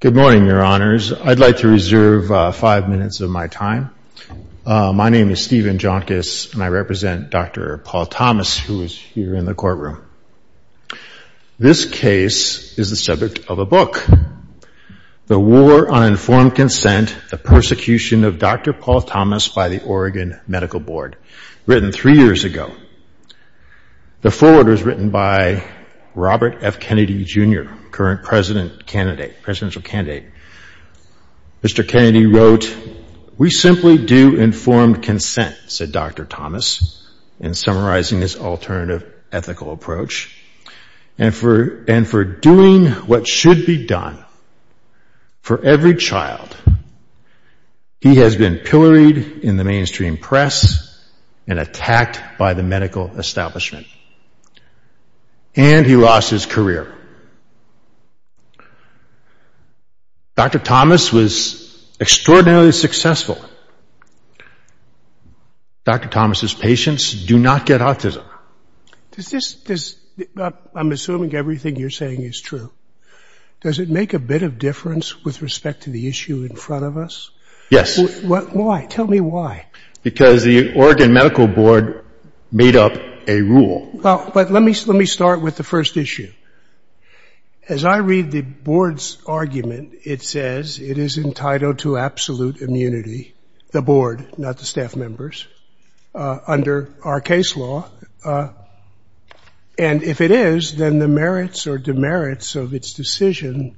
Good morning, your honors. I'd like to reserve five minutes of my time. My name is Stephen Jonkis and I represent Dr. Paul Thomas, who is here in the courtroom. This case is the subject of a book, The War on Informed Consent, the Persecution of Dr. Paul Thomas by the Oregon Medical Board, written three years ago. The forwarder is written by Robert F. Kennedy Jr., current presidential candidate. Mr. Kennedy wrote, we simply do informed consent, said Dr. Thomas, in summarizing this alternative ethical approach, and for doing what should be done for every child, he has been pilloried in the mainstream press and attacked by the establishment. And he lost his career. Dr. Thomas was extraordinarily successful. Dr. Thomas's patients do not get autism. I'm assuming everything you're saying is true. Does it make a bit of difference with respect to the issue in front of us? Yes. Why? Tell me why. Because the Oregon Medical Board made up a rule. Well, but let me start with the first issue. As I read the board's argument, it says it is entitled to absolute immunity, the board, not the staff members, under our case law. And if it is, then the merits or demerits of its decision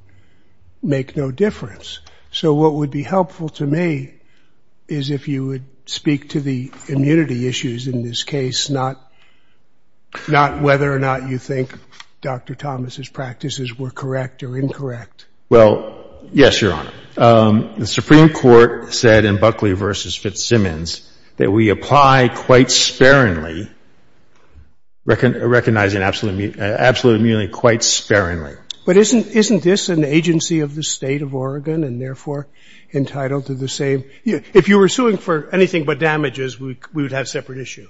make no difference. So what would be helpful to me is if you would speak to the immunity issues in this case, not whether or not you think Dr. Thomas's practices were correct or incorrect. Well, yes, Your Honor. The Supreme Court said in Buckley v. Fitzsimmons that we apply quite sparingly, recognizing absolute immunity quite sparingly. But isn't this an agency of the State of Oregon and therefore entitled to the same? If you were suing for anything but damages, we would have separate issue.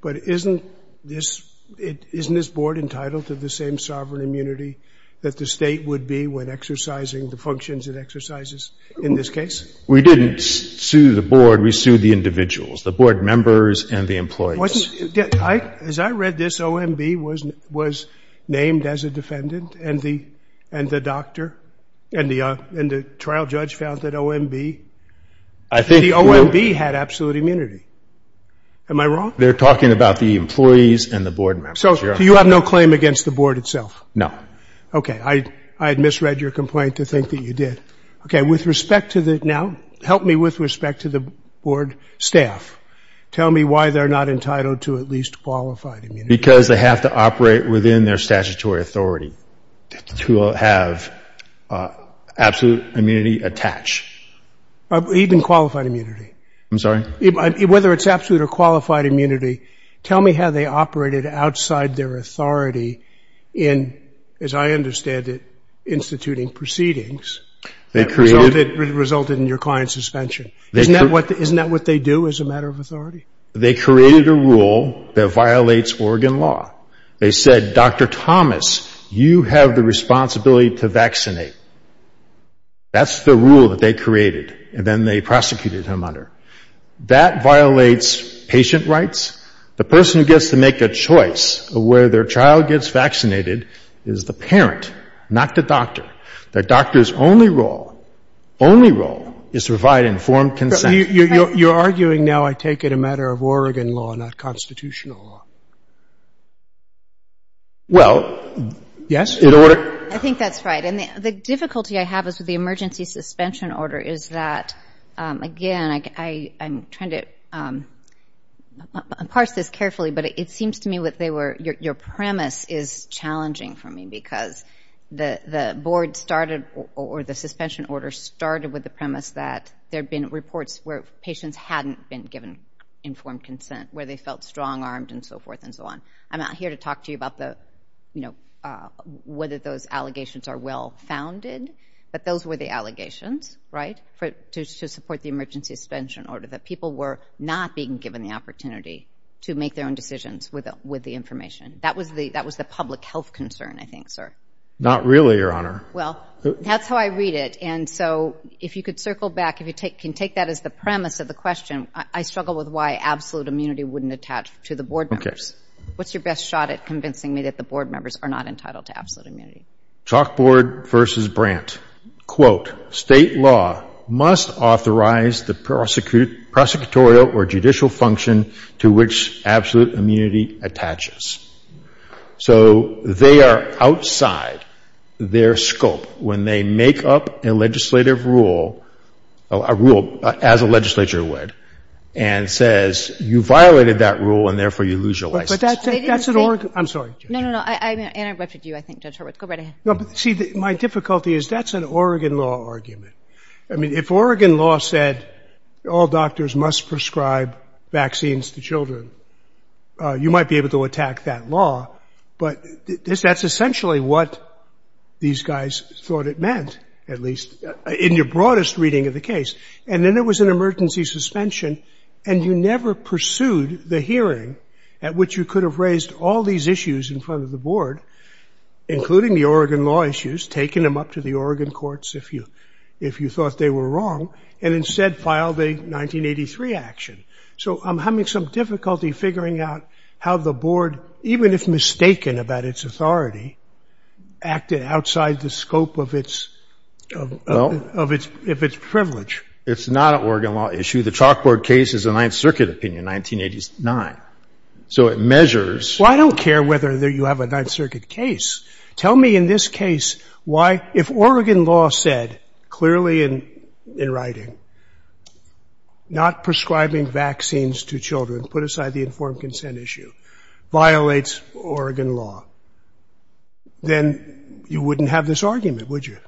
But isn't this board entitled to the same sovereign immunity that the state would be when exercising the functions it exercises in this case? We didn't sue the board. We sued the individuals, the board members and the employees. As I read this, OMB was named as a priority. And the trial judge found that OMB had absolute immunity. Am I wrong? They're talking about the employees and the board members, Your Honor. So you have no claim against the board itself? No. Okay. I had misread your complaint to think that you did. Okay. With respect to the now, help me with respect to the board staff. Tell me why they're not entitled to at least qualified immunity. Because they have to operate within their statutory authority to have absolute immunity attached. Even qualified immunity? I'm sorry? Whether it's absolute or qualified immunity, tell me how they operated outside their authority in, as I understand it, instituting proceedings that resulted in your client's suspension. Isn't that what they do as a matter of authority? They created a rule that violates Oregon law. They said, Dr. Thomas, you have the responsibility to vaccinate. That's the rule that they created. And then they prosecuted him under. That violates patient rights. The person who gets to make a choice of where their child gets vaccinated is the parent, not the doctor. The doctor's only role, only role, is to provide informed consent. You're arguing now, I take it, a matter of Oregon law, not constitutional law. Well, yes, in order. I think that's right. And the difficulty I have is with the emergency suspension order is that, again, I'm trying to parse this carefully, but it seems to me what they were, your premise is challenging for me. Because the board started, or the suspension order started with the premise that there had been reports where patients hadn't been given informed consent, where they felt strong-armed and so forth and so on. I'm not here to talk to you about whether those allegations are well-founded, but those were the allegations, right, to support the emergency suspension order, that people were not being given the opportunity to make their own decisions with the information. That was the public health concern, I think, sir. Not really, Your Honor. Well, that's how I read it. And so if you could circle back, if you can take that as the premise of the question, I struggle with why absolute immunity wouldn't attach to the board members. What's your best shot at convincing me that the board members are not entitled to absolute immunity? Chalkboard v. Brandt. Quote, State law must authorize the prosecutorial or judicial function to which absolute immunity attaches. So they are outside their scope when they make up a legislative rule, a rule as a legislature would, and says you violated that rule and therefore you lose your license. But that's an Oregon – I'm sorry, Judge. No, no, no. I interrupted you, I think, Judge Horwitz. Go right ahead. No, but see, my difficulty is that's an Oregon law argument. I mean, if Oregon law said all doctors must prescribe vaccines to children, you might be able to attack that law, but that's essentially what these guys thought it meant, at least in your broadest reading of the case. And then there was an emergency suspension, and you never pursued the hearing at which you could have raised all these issues in front of the board, including the Oregon law issues, taken them up to the Oregon courts if you thought they were wrong, and instead filed a 1983 action. So I'm having some difficulty figuring out how the board, even if mistaken about its authority, acted outside the scope of its privilege. It's not an Oregon law issue. The chalkboard case is a Ninth Circuit opinion, 1989. So it measures – Well, I don't care whether you have a Ninth Circuit case. Tell me in this case why, if Oregon law said clearly in writing, not prescribing vaccines to children, put aside the informed consent issue, violates Oregon law, then you wouldn't have this argument, would you?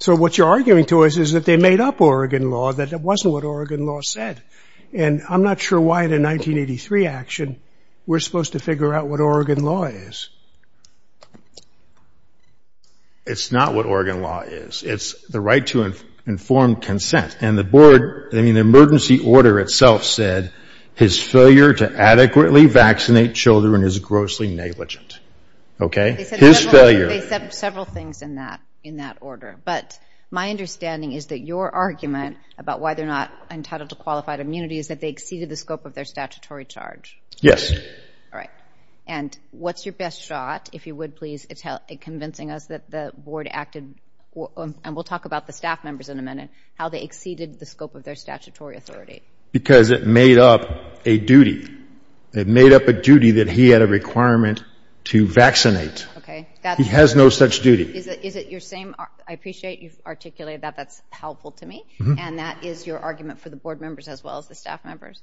So what you're arguing to us is that they made up Oregon law, that it wasn't what Oregon law said. And I'm not sure why in a 1983 action we're supposed to figure out what Oregon law is. It's not what Oregon law is. It's the right to informed consent. And the board – I mean, the emergency order itself said his failure to adequately vaccinate children is grossly negligent. Okay? His failure – They said several things in that order. But my understanding is that your argument about why they're not entitled to qualified immunity is that they exceeded the scope of their statutory charge. All right. And what's your best shot, if you would please, at convincing us that the board acted – and we'll talk about the staff members in a minute – how they exceeded the scope of their statutory authority? Because it made up a duty. It made up a duty that he had a requirement to vaccinate. Okay. He has no such duty. Is it your same – I appreciate you've articulated that. That's helpful to me. And that is your argument for the board members as well as the staff members?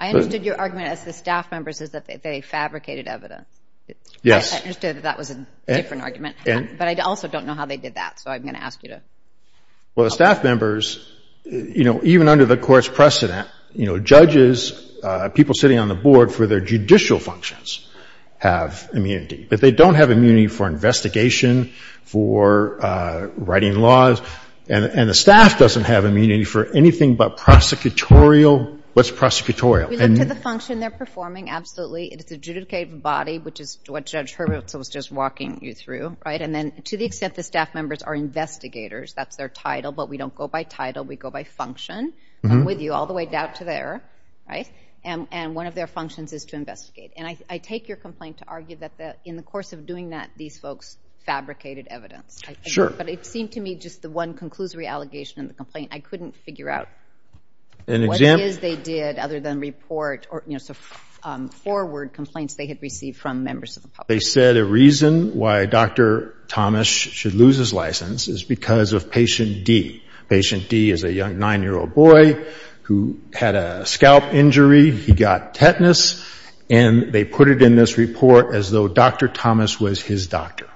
I understood your argument as the staff members is that they fabricated evidence. Yes. I understood that that was a different argument. But I also don't know how they did that, so I'm going to ask you to help me. Well, the staff members – you know, even under the Court's precedent, you know, judges – people sitting on the board for their judicial functions have immunity. But they don't have immunity for investigation, for writing laws. And the staff doesn't have immunity for anything but prosecutorial – what's prosecutorial? We look to the function they're performing, absolutely. It's a judicative body, which is what Judge Hurwitz was just walking you through, right? And then to the extent the staff members are investigators – that's their title, but we don't go by title. We go by function. I'm with you all the way down to there, right? And one of their functions is to investigate. And I take your complaint to argue that in the course of doing that, these folks fabricated evidence. Sure. But it seemed to me, just the one conclusory allegation in the complaint, I couldn't figure out what it is they did other than report or, you know, forward complaints they had received from members of the public. They said a reason why Dr. Thomas should lose his license is because of Patient D. Patient D is a young 9-year-old boy who had a scalp injury. He got tetanus. And they put it in this report as though Dr. Thomas was his doctor.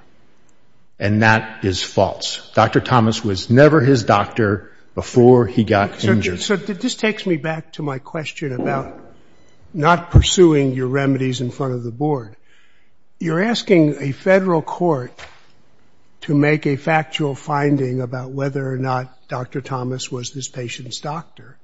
And that is false. Dr. Thomas was never his doctor before he got injured. So this takes me back to my question about not pursuing your remedies in front of the board. You're asking a federal court to make a factual finding about whether or not Dr. Thomas was this patient's doctor.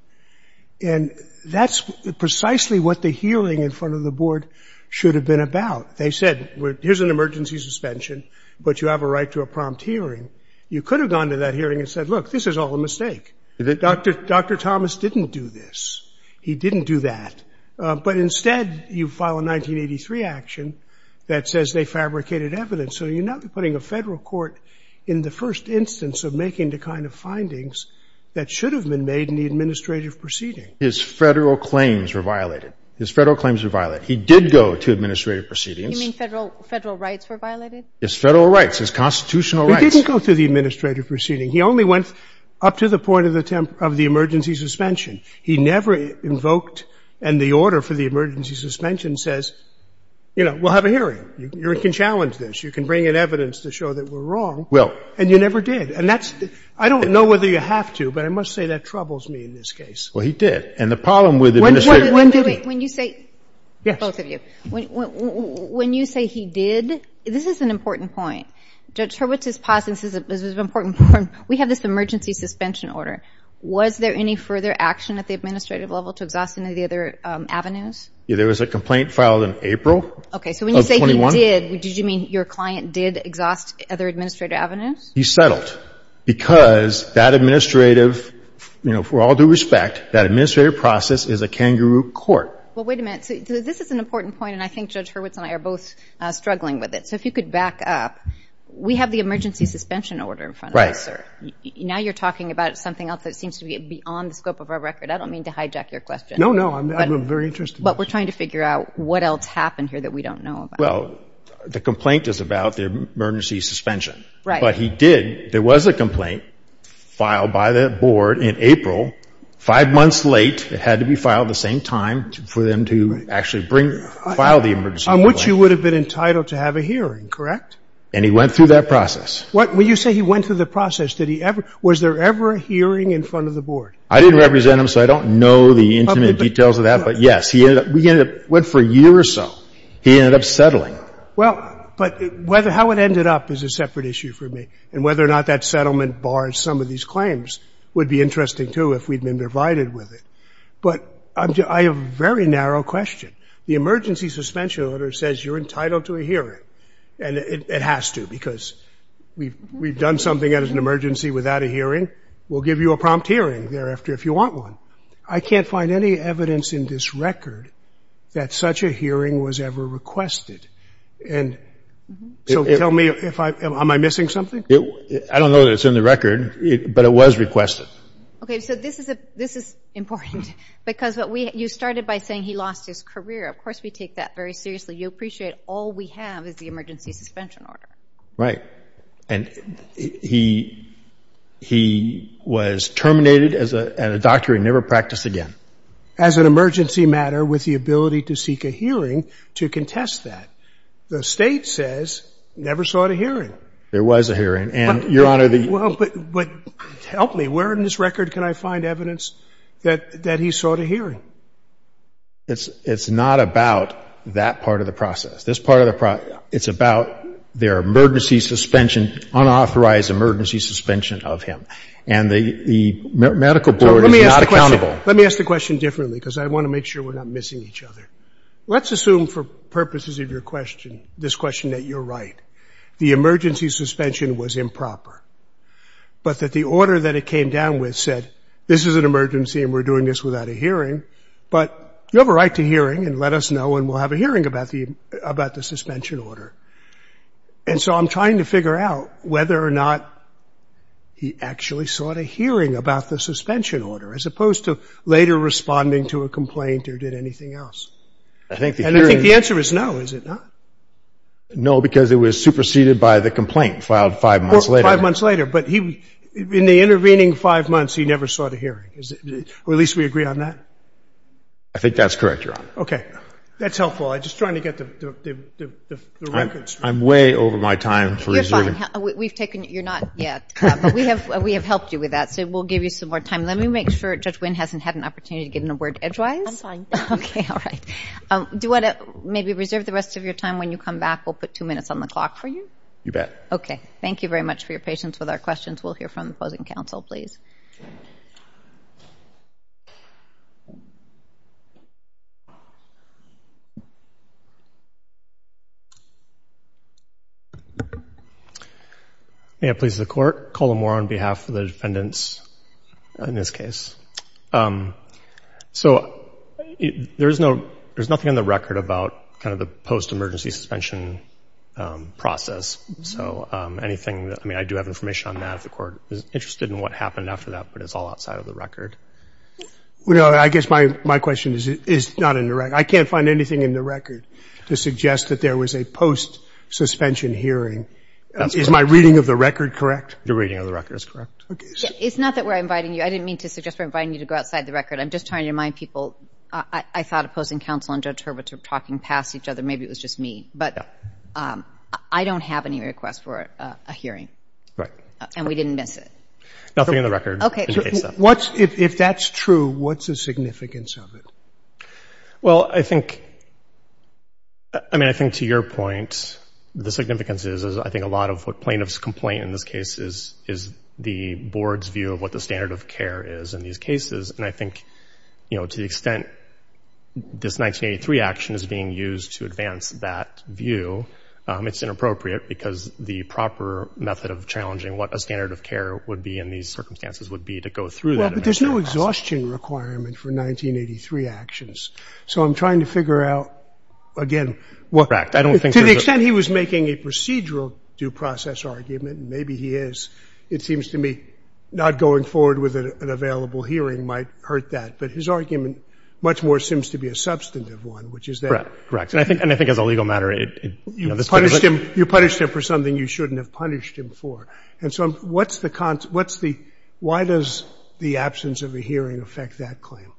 And that's precisely what the healing in front of the board should have been about. They said, here's an emergency suspension, but you have a right to a prompt hearing. You could have gone to that hearing and said, look, this is all a mistake. Dr. Thomas didn't do this. He didn't do that. But instead, you file a 1983 action that says they fabricated evidence. So you're not putting a federal court in the first instance of making the kind of findings that should have been made in the administrative proceeding. His federal claims were violated. His federal claims were violated. He did go to administrative proceedings. You mean federal rights were violated? His federal rights, his constitutional rights. He didn't go to the administrative proceeding. He only went up to the point of the emergency suspension. He never invoked and the order for the emergency suspension says, you know, we'll have a hearing. You can challenge this. You can bring in evidence to show that we're wrong. And you never did. And that's – I don't know whether you have to, but I must say that troubles me in this case. Well, he did. And the problem with administrative – Wait, wait, wait. When you say – both of you. When you say he did, this is an important point. Judge Hurwitz is positive this is an important point. We have this emergency suspension order. Was there any further action at the administrative level to exhaust any of the other avenues? There was a complaint filed in April of 21. Okay. So when you say he did, did you mean your client did exhaust other administrative avenues? He settled because that administrative, you know, for all due respect, that administrative process is a kangaroo court. Well, wait a minute. So this is an important point, and I think Judge Hurwitz and I are both struggling with it. So if you could back up. We have the emergency suspension order in front of us, sir. Now you're talking about something else that seems to be beyond the scope of our record. I don't mean to hijack your question. No, no. I'm very interested. But we're trying to figure out what else happened here that we don't know about. Well, the complaint is about the emergency suspension. Right. But he did – there was a complaint filed by the board in April five months late. It had to be filed at the same time for them to actually bring – file the emergency complaint. On which you would have been entitled to have a hearing, correct? And he went through that process. What – when you say he went through the process, did he ever – was there ever a hearing in front of the board? I didn't represent him, so I don't know the intimate details of that. But yes, he ended up – we ended up – went for a year or so. He ended up settling. Well, but whether – how it ended up is a separate issue for me. And whether or not that settlement bars some of these claims would be interesting, too, if we'd been provided with it. But I have a very narrow question. The emergency suspension order says you're entitled to a hearing. And it has to because we've done something that is an emergency without a hearing. We'll give you a prompt hearing thereafter if you want one. I can't find any evidence in this record that such a hearing was ever requested. And so tell me if I – am I missing something? I don't know that it's in the record. But it was requested. Okay, so this is important. Because what we – you started by saying he lost his career. Of course we take that very seriously. You appreciate all we have is the emergency suspension order. Right. And he was terminated as a doctor and never practiced again. As an emergency matter with the ability to seek a hearing to contest that. The State says never sought a hearing. There was a hearing. And, Your Honor, the – Well, but help me. Where in this record can I find evidence that he sought a hearing? It's not about that part of the process. This part of the – it's about their emergency suspension, unauthorized emergency suspension of him. And the medical board is not accountable. Let me ask the question differently because I want to make sure we're not missing each other. Let's assume for purposes of your question, this question that you're right. The emergency suspension was improper. But that the order that it came down with said, this is an emergency and we're doing this without a hearing. But you have a right to hearing and let us know and we'll have a hearing about the suspension order. And so I'm trying to figure out whether or not he actually sought a hearing about the suspension order as opposed to later responding to a complaint or did anything else. And I think the answer is no, is it not? No, because it was superseded by the complaint filed five months later. Five months later. But in the intervening five months, he never sought a hearing. Or at least we agree on that? I think that's correct, Your Honor. Okay. That's helpful. I'm just trying to get the record straight. I'm way over my time for reserving. You're fine. We've taken – you're not yet. We have helped you with that, so we'll give you some more time. Let me make sure Judge Wynn hasn't had an opportunity to get in a word edgewise. I'm fine. Okay. All right. Do you want to maybe reserve the rest of your time? When you come back, we'll put two minutes on the clock for you. You bet. Okay. Thank you very much for your patience with our questions. We'll hear from the opposing counsel, please. May it please the Court. Colin Moore on behalf of the defendants in this case. So there's no – there's nothing on the record about kind of the post-emergency suspension process. So anything – I mean, I do have information on that if the Court is interested in what happened after that, but it's all outside of the record. Well, I guess my question is not in the record. I can't find anything in the record to suggest that there was a post-suspension hearing. Is my reading of the record correct? Your reading of the record is correct. It's not that we're inviting you. I didn't mean to suggest we're inviting you to go outside the record. I'm just trying to remind people. I thought opposing counsel and Judge Hurwitz were talking past each other. Maybe it was just me. But I don't have any requests for a hearing. And we didn't miss it. Nothing in the record. Okay. If that's true, what's the significance of it? Well, I think – I mean, I think to your point, the significance is I think a lot of what plaintiffs complain in this case is the board's view of what the standard of care is in these cases. And I think, you know, to the extent this 1983 action is being used to advance that view, it's inappropriate because the proper method of challenging what a standard of care would be in these circumstances would be to go through that. Well, but there's no exhaustion requirement for 1983 actions. So I'm trying to figure out, again – Correct. To the extent he was making a procedural due process argument, and maybe he is, it seems to me not going forward with an available hearing might hurt that. But his argument much more seems to be a substantive one, which is that – Correct. And I think as a legal matter, it – You punished him for something you shouldn't have punished him for. And so what's the – why does the absence of a hearing affect that claim?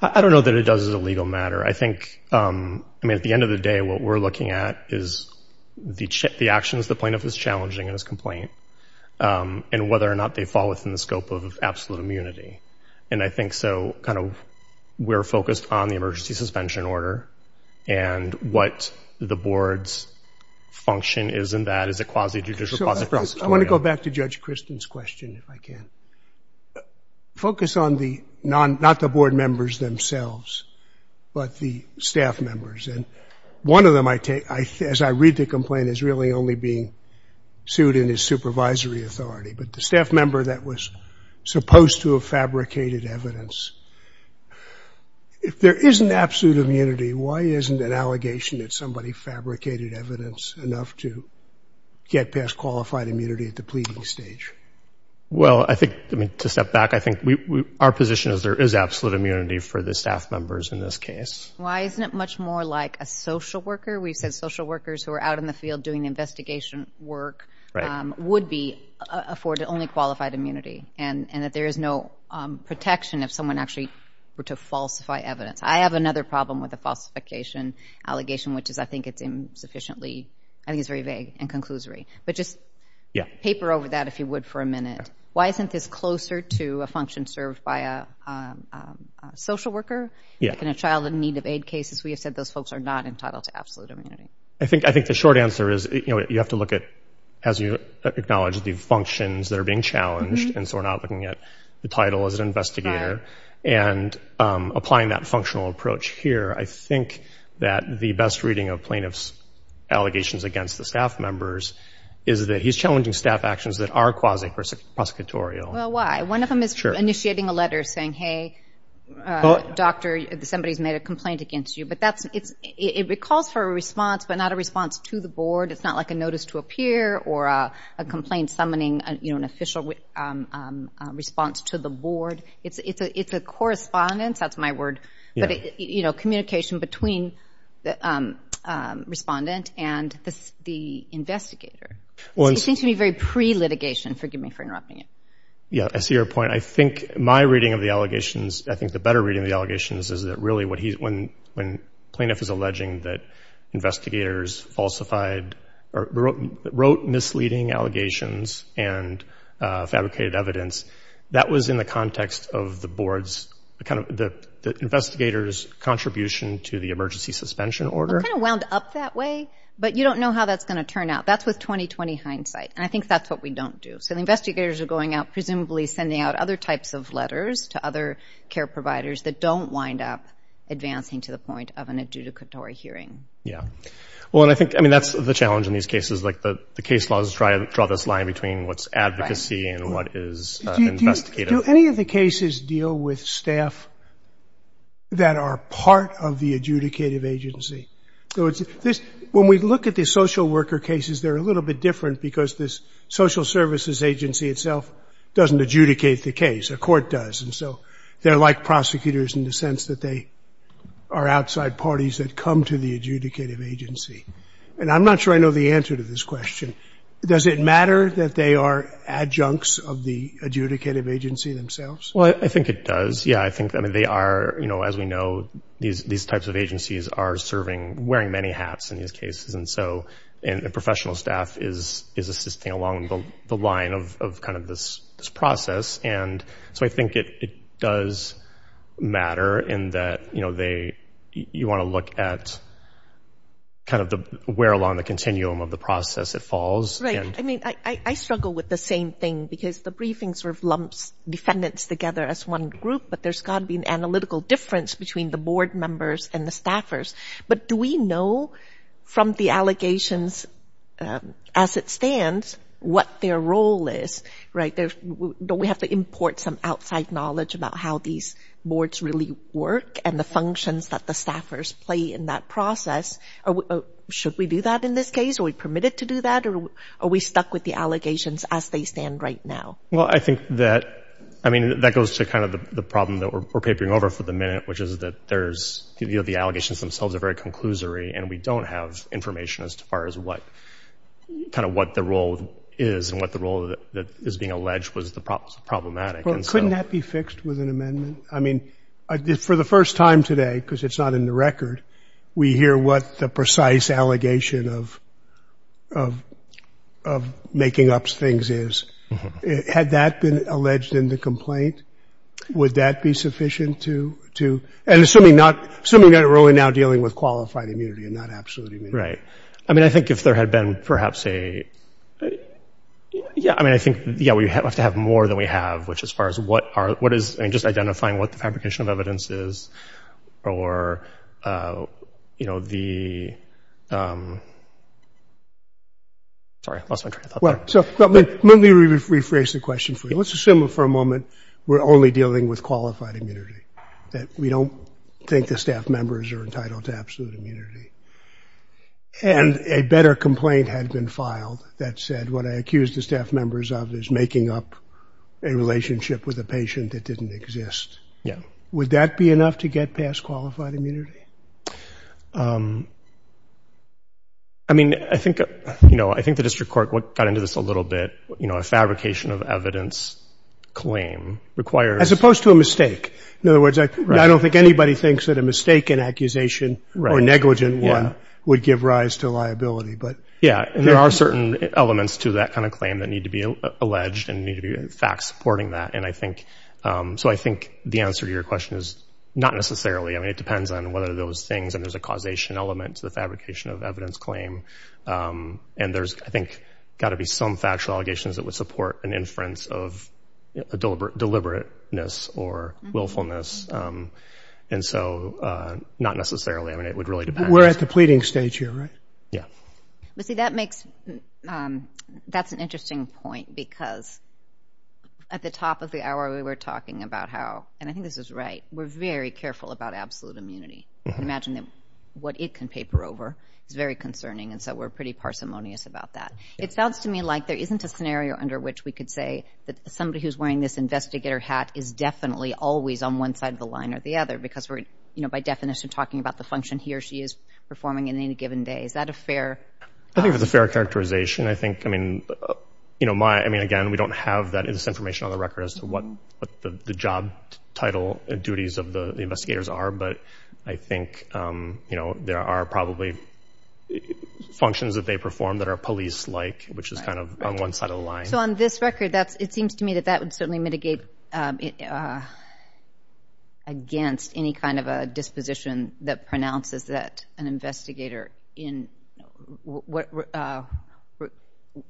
I don't know that it does as a legal matter. I think – I mean, at the end of the day, what we're looking at is the actions the plaintiff is challenging in his complaint and whether or not they fall within the scope of absolute immunity. And I think so, kind of, we're focused on the emergency suspension order and what the board's function is in that as a quasi-judicial process. I want to go back to Judge Kristen's question if I can. Focus on the – not the board members themselves, but the staff members. And one of them, as I read the complaint, is really only being sued in his supervisory authority. But the staff member that was supposed to have fabricated evidence. If there isn't absolute immunity, why isn't an allegation that somebody fabricated evidence enough to get past qualified immunity at the pleading stage? Well, I think – I mean, to step back, I think we – our position is there is absolute immunity for the staff members in this case. Why isn't it much more like a social worker? We've said social workers who are out in the field doing investigation work would be afforded only qualified immunity. And that there is no protection if someone actually were to falsify evidence. I have another problem with the falsification allegation, which is I think it's insufficiently – I think it's very vague and conclusory. But just paper over that, if you would, for a minute. Why isn't this closer to a function served by a social worker? Like in a child in need of aid cases, we have said those folks are not entitled to absolute immunity. I think the short answer is, you have to look at, as you acknowledge, the functions that are being challenged. And so we're not looking at the title as an investigator. And applying that functional approach here, I think that the best reading of plaintiff's allegations against the staff members is that he's challenging staff actions that are quasi-prosecutorial. Well, why? One of them is initiating a letter saying, hey, doctor, somebody's made a complaint against you. It calls for a response, but not a response to the board. It's not like a notice to appear or a complaint summoning an official response to the board. It's a correspondence, that's my word, communication between the respondent and the investigator. It seems to me very pre-litigation. Forgive me for interrupting you. Yeah, I see your point. I think my reading of the allegations, I think the better reading of the allegations is that really when plaintiff is alleging that investigators wrote misleading allegations and fabricated evidence, that was in the context of the board's, the investigators' contribution to the emergency suspension order. It kind of wound up that way, but you don't know how that's going to turn out. That's with 20-20 hindsight, and I think that's what we don't do. So the investigators are going out, presumably sending out other types of letters to other care providers that don't wind up advancing to the point of an adjudicatory hearing. That's the challenge in these cases. The case laws try to draw this line between what's advocacy and what is investigative. Do any of the cases deal with staff that are part of the adjudicative agency? When we look at the social worker cases, they're a little bit different because this social services agency itself doesn't adjudicate the case. The court does. They're like prosecutors in the sense that they are outside parties that come to the adjudicative agency. I'm not sure I know the answer to this question. Does it matter that they are adjuncts of the adjudicative agency themselves? I think it does. As we know, these types of agencies are wearing many hats in these cases. Professional staff is assisting along the line of this process. I think it does matter in that you want to look at where along the continuum of the process it falls. I struggle with the same thing because the briefing lumps defendants together as one group but there's got to be an analytical difference between the board members and the staffers. Do we know from the allegations as it stands what their role is? Don't we have to import some outside knowledge about how these boards really work and the functions that the staffers play in that process? Should we do that in this case? Are we permitted to do that or are we stuck with the allegations as they stand right now? I think that goes to the problem that we're papering over for the minute, which is that the allegations themselves are very conclusory and we don't have information as to what the role is and what the role that is being alleged was problematic. Couldn't that be fixed with an amendment? For the first time today, because it's not in the record, we hear what the precise allegation of making up things is. Had that been alleged in the complaint, would that be sufficient? Assuming we're only now dealing with qualified immunity and not absolute immunity. I think if there had been perhaps a I think we'd have to have more than we have as far as what is identifying what the fabrication of evidence is or the I'm sorry. I lost my train of thought there. Let me rephrase the question for you. Let's assume for a moment we're only dealing with qualified immunity that we don't think the staff members are entitled to absolute immunity and a better complaint had been filed that said what I accused the staff members of is making up a relationship with a patient that didn't exist. Would that be enough to get past qualified immunity? I think the district court got into this a little bit. A fabrication of evidence claim requires As opposed to a mistake. In other words, I don't think anybody thinks that a mistake in accusation or negligent one would give rise to There are certain elements to that kind of claim that need to be alleged and facts supporting that. I think the answer to your question is not necessarily. It depends on whether those things and there's a causation element to the fabrication of evidence claim and there's, I think, got to be some factual allegations that would support an inference of a deliberateness or willfulness and so not necessarily. We're at the pleading stage here, right? That's an interesting point because at the top of the hour we were talking about how we're very careful about absolute immunity. Imagine what it can paper over. It's very concerning and so we're pretty parsimonious about that. It sounds to me like there isn't a scenario under which we could say that somebody who's wearing this investigator hat is definitely always on one side of the line or the other because we're, by definition, talking about the function he or she is performing in any given day. Is that a fair... I think it's a fair characterization. Again, we don't have this information on the record as to what the job title and duties of the investigators are, but I think there are probably functions that they perform that are police-like which is kind of on one side of the line. So on this record, it seems to me that that would certainly mitigate against any kind of a disposition that pronounces that an investigator in...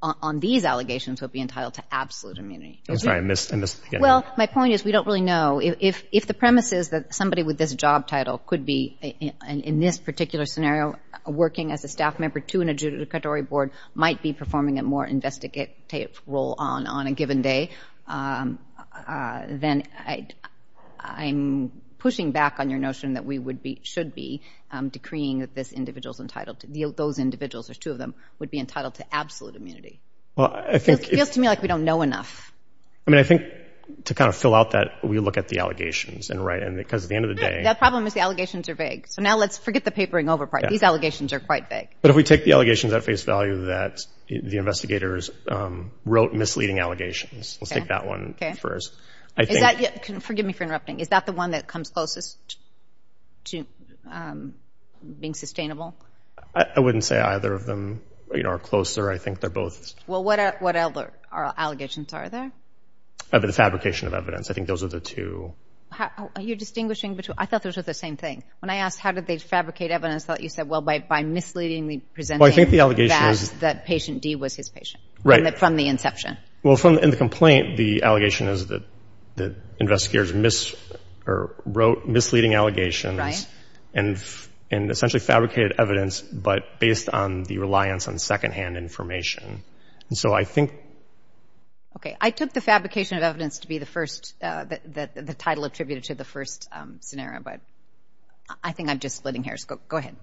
on these allegations would be entitled to absolute immunity. Well, my point is we don't really know. If the premise is that somebody with this job title could be in this particular scenario working as a staff member to an adjudicatory board might be performing a more investigative role on a given day, then I'm pushing back on your notion that we should be decreeing that this individual's entitled to... those individuals, there's two of them, would be entitled to absolute immunity. It feels to me like we don't know enough. I mean, I think to kind of fill out that, we look at the allegations. The problem is the allegations are vague. So now let's forget the papering over part. These allegations are quite vague. But if we take the allegations at face value that the investigators wrote misleading allegations, let's take that one first. Is that... forgive me for interrupting... is that the one that comes closest to being sustainable? I wouldn't say either of them are closer. I think they're both... Well, what other allegations are there? The fabrication of evidence. I think those are the two. Are you distinguishing between... I thought those were the same thing. When I asked how did they fabricate evidence, you said, well, by misleadingly presenting that patient D was his patient from the inception. Well, in the complaint, the allegation is that investigators wrote misleading allegations and essentially fabricated evidence, but based on the reliance on second-hand information. So I think... Okay. I took the fabrication of evidence to be the first... the title attributed to the first scenario. But I think I'm just splitting hairs. Go ahead.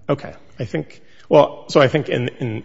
So I think in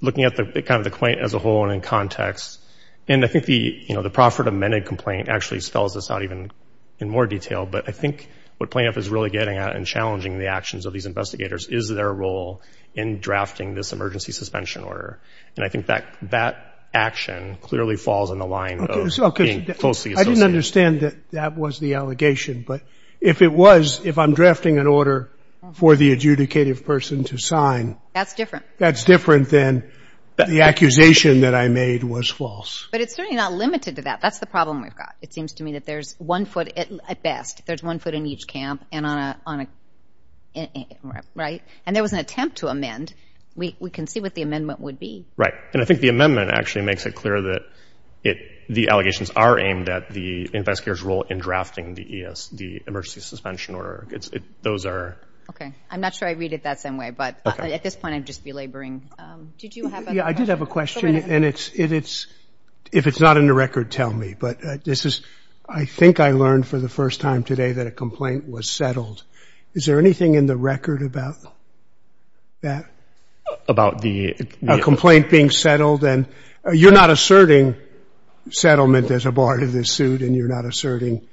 looking at the complaint as a whole and in context, the proffered amended complaint actually spells this out even in more detail. But I think what plaintiff is really getting at and challenging the actions of these investigators is their role in drafting this emergency suspension order. And I think that action clearly falls in the line of being falsely associated. I didn't understand that that was the allegation, but if it was, if I'm drafting an order for the adjudicative person to sign... That's different. That's different than the accusation that I made was false. But it's certainly not limited to that. That's the problem we've got. It seems to me that there's one foot... At best, there's one foot in each camp and on a... Right? And there was an attempt to amend. We can see what the amendment would be. Right. And I think the amendment actually makes it clear that the allegations are aimed at the investigator's role in drafting the emergency suspension order. Those are... Okay. I'm not sure I read it that same way, but at this point I'd just be laboring. Did you have a... Yeah, I did have a question and it's... It's in the record, tell me, but this is... I think I learned for the first time today that a complaint was settled. Is there anything in the record about that? About the... A complaint being settled and... You're not asserting settlement as a part of this suit and you're not asserting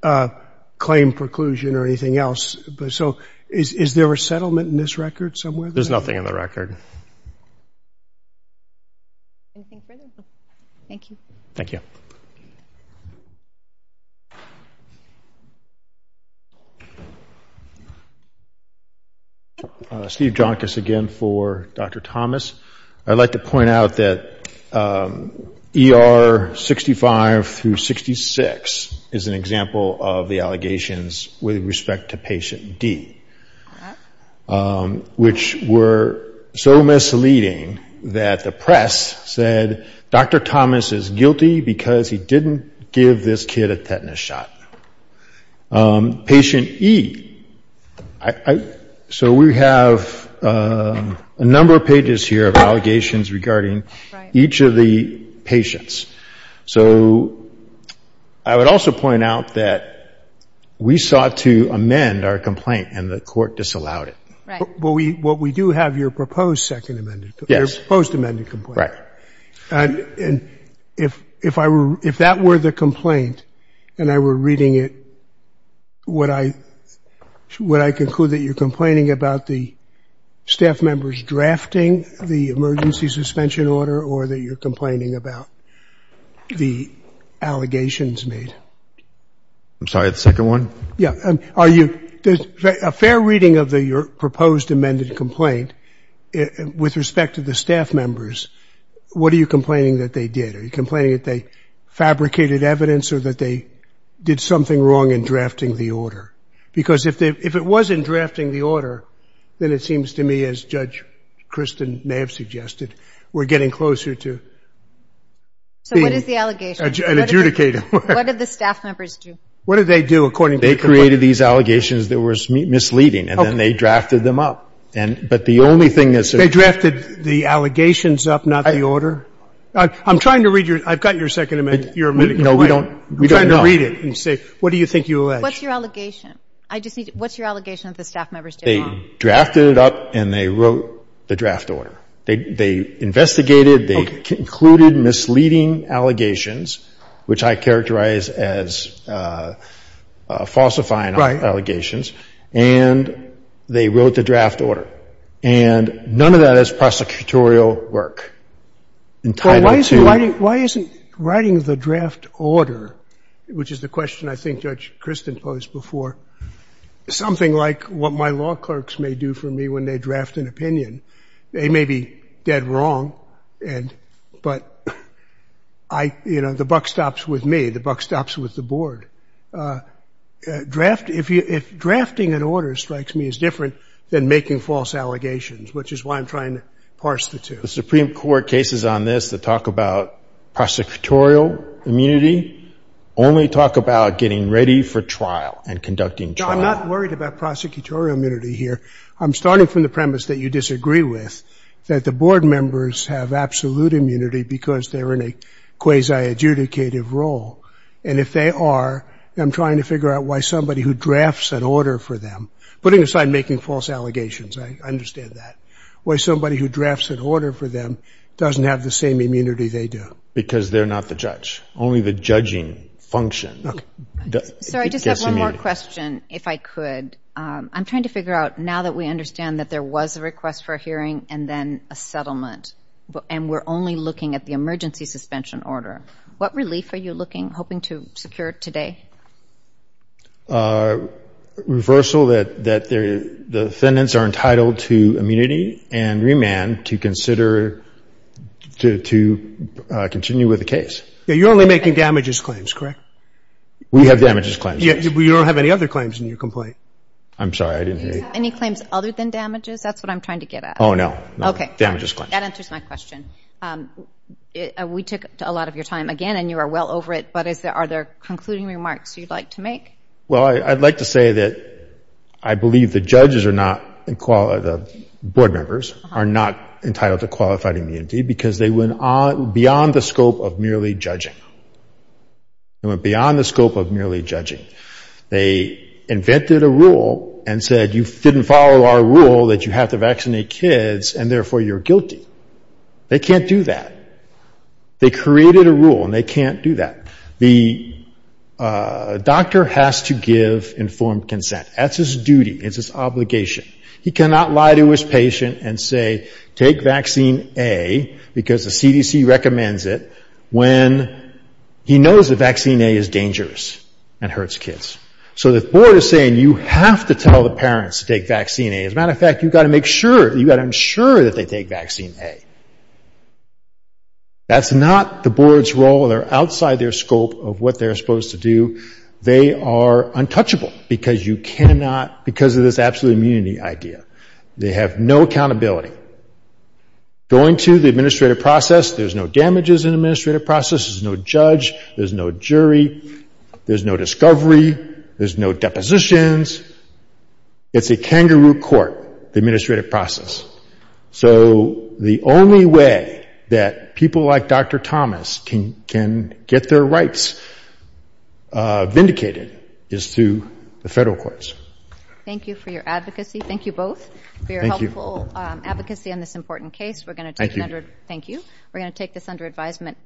claim preclusion or anything else, but so is there a settlement in this record somewhere? There's nothing in the record. Anything further? Thank you. Thank you. Steve Jonkis again for Dr. Thomas. I'd like to point out that ER 65 through 66 is an example of the allegations with respect to patient D, which were so misleading that the press said Dr. Thomas is guilty because he didn't give this kid a tetanus shot. Patient E, so we have a number of pages here of allegations regarding each of the patients, so I would also point out that we sought to amend our complaint and the what we do have, your proposed second amended, your proposed amended complaint. If that were the complaint and I were reading it, would I conclude that you're complaining about the staff members drafting the emergency suspension order or that you're complaining about the allegations made? I'm sorry, the second one? Yeah. Are you... A fair reading of your proposed amended complaint with respect to the staff members, what are you complaining that they did? Are you complaining that they fabricated evidence or that they did something wrong in drafting the order? Because if it wasn't drafting the order, then it seems to me as Judge Kristen may have suggested, we're getting closer to being... So what is the allegation? What did the staff members do? What did they do according to the... They created these allegations that were misleading and then they drafted them up. But the only thing that... They drafted the allegations up, not the order? I'm trying to read your... I've got your second amended... No, we don't... I'm trying to read it and see what do you think you allege? What's your allegation? I just need... What's your allegation that the staff members did wrong? They drafted it up and they wrote the draft order. They investigated, they concluded misleading allegations, which I characterize as falsifying allegations. And they wrote the draft order. And none of that is prosecutorial work. Why isn't writing the draft order, which is the question I think Judge Kristen posed before, something like what my law clerks may do for me when they draft an opinion. They may be dead wrong, but the buck stops with me. The buck stops with the board. If drafting an order strikes me as different than making false allegations, which is why I'm trying to parse the two. The Supreme Court cases on this that talk about prosecutorial immunity only talk about getting ready for trial and conducting trial. I'm not worried about prosecutorial immunity here. I'm starting from the premise that you disagree with, that the board members have absolute immunity because they're in a quasi-adjudicative role. And if they are, I'm trying to figure out why somebody who drafts an order for them, putting aside making false allegations, I understand that, why somebody who drafts an order for them doesn't have the same immunity they do. Because they're not the judge. Only the judging function gets immunity. So I just have one more question, if I could. I'm trying to figure out, now that we understand that there was a request for a and we're only looking at the emergency suspension order, what relief are you looking, hoping to secure today? Reversal that the defendants are entitled to immunity and remand to consider to continue with the case. You're only making damages claims, correct? We have damages claims. You don't have any other claims in your complaint? I'm sorry, I didn't hear you. Any claims other than damages? That's what I'm trying to get at. Oh, no. Damages claims. That answers my question. We took a lot of your time, again, and you are well over it, but are there concluding remarks you'd like to make? Well, I'd like to say that I believe the judges are not the board members are not entitled to qualified immunity because they went beyond the scope of merely judging. They went beyond the scope of merely judging. They invented a rule and said you didn't follow our rule that you have to vaccinate kids and therefore you're guilty. They can't do that. They created a rule and they can't do that. The doctor has to give informed consent. That's his duty. It's his obligation. He cannot lie to his patient and say take vaccine A because the CDC recommends it when he knows that vaccine A is dangerous and hurts kids. So the board is saying you have to tell the parents to take vaccine A. As a matter of fact, you've got to make sure you've got to ensure that they take vaccine A. That's not the board's role. They're outside their scope of what they're supposed to do. They are untouchable because you cannot because of this absolute immunity idea. They have no accountability. Going to the administrative process, there's no damages in the administrative process. There's no judge. There's no jury. There's no discovery. There's no depositions. It's a kangaroo court, the administrative process. So the only way that people like Dr. Thomas can get their rights vindicated is through the federal courts. Thank you for your advocacy. Thank you both for your helpful advocacy on this important case. We're going to take this under advisement.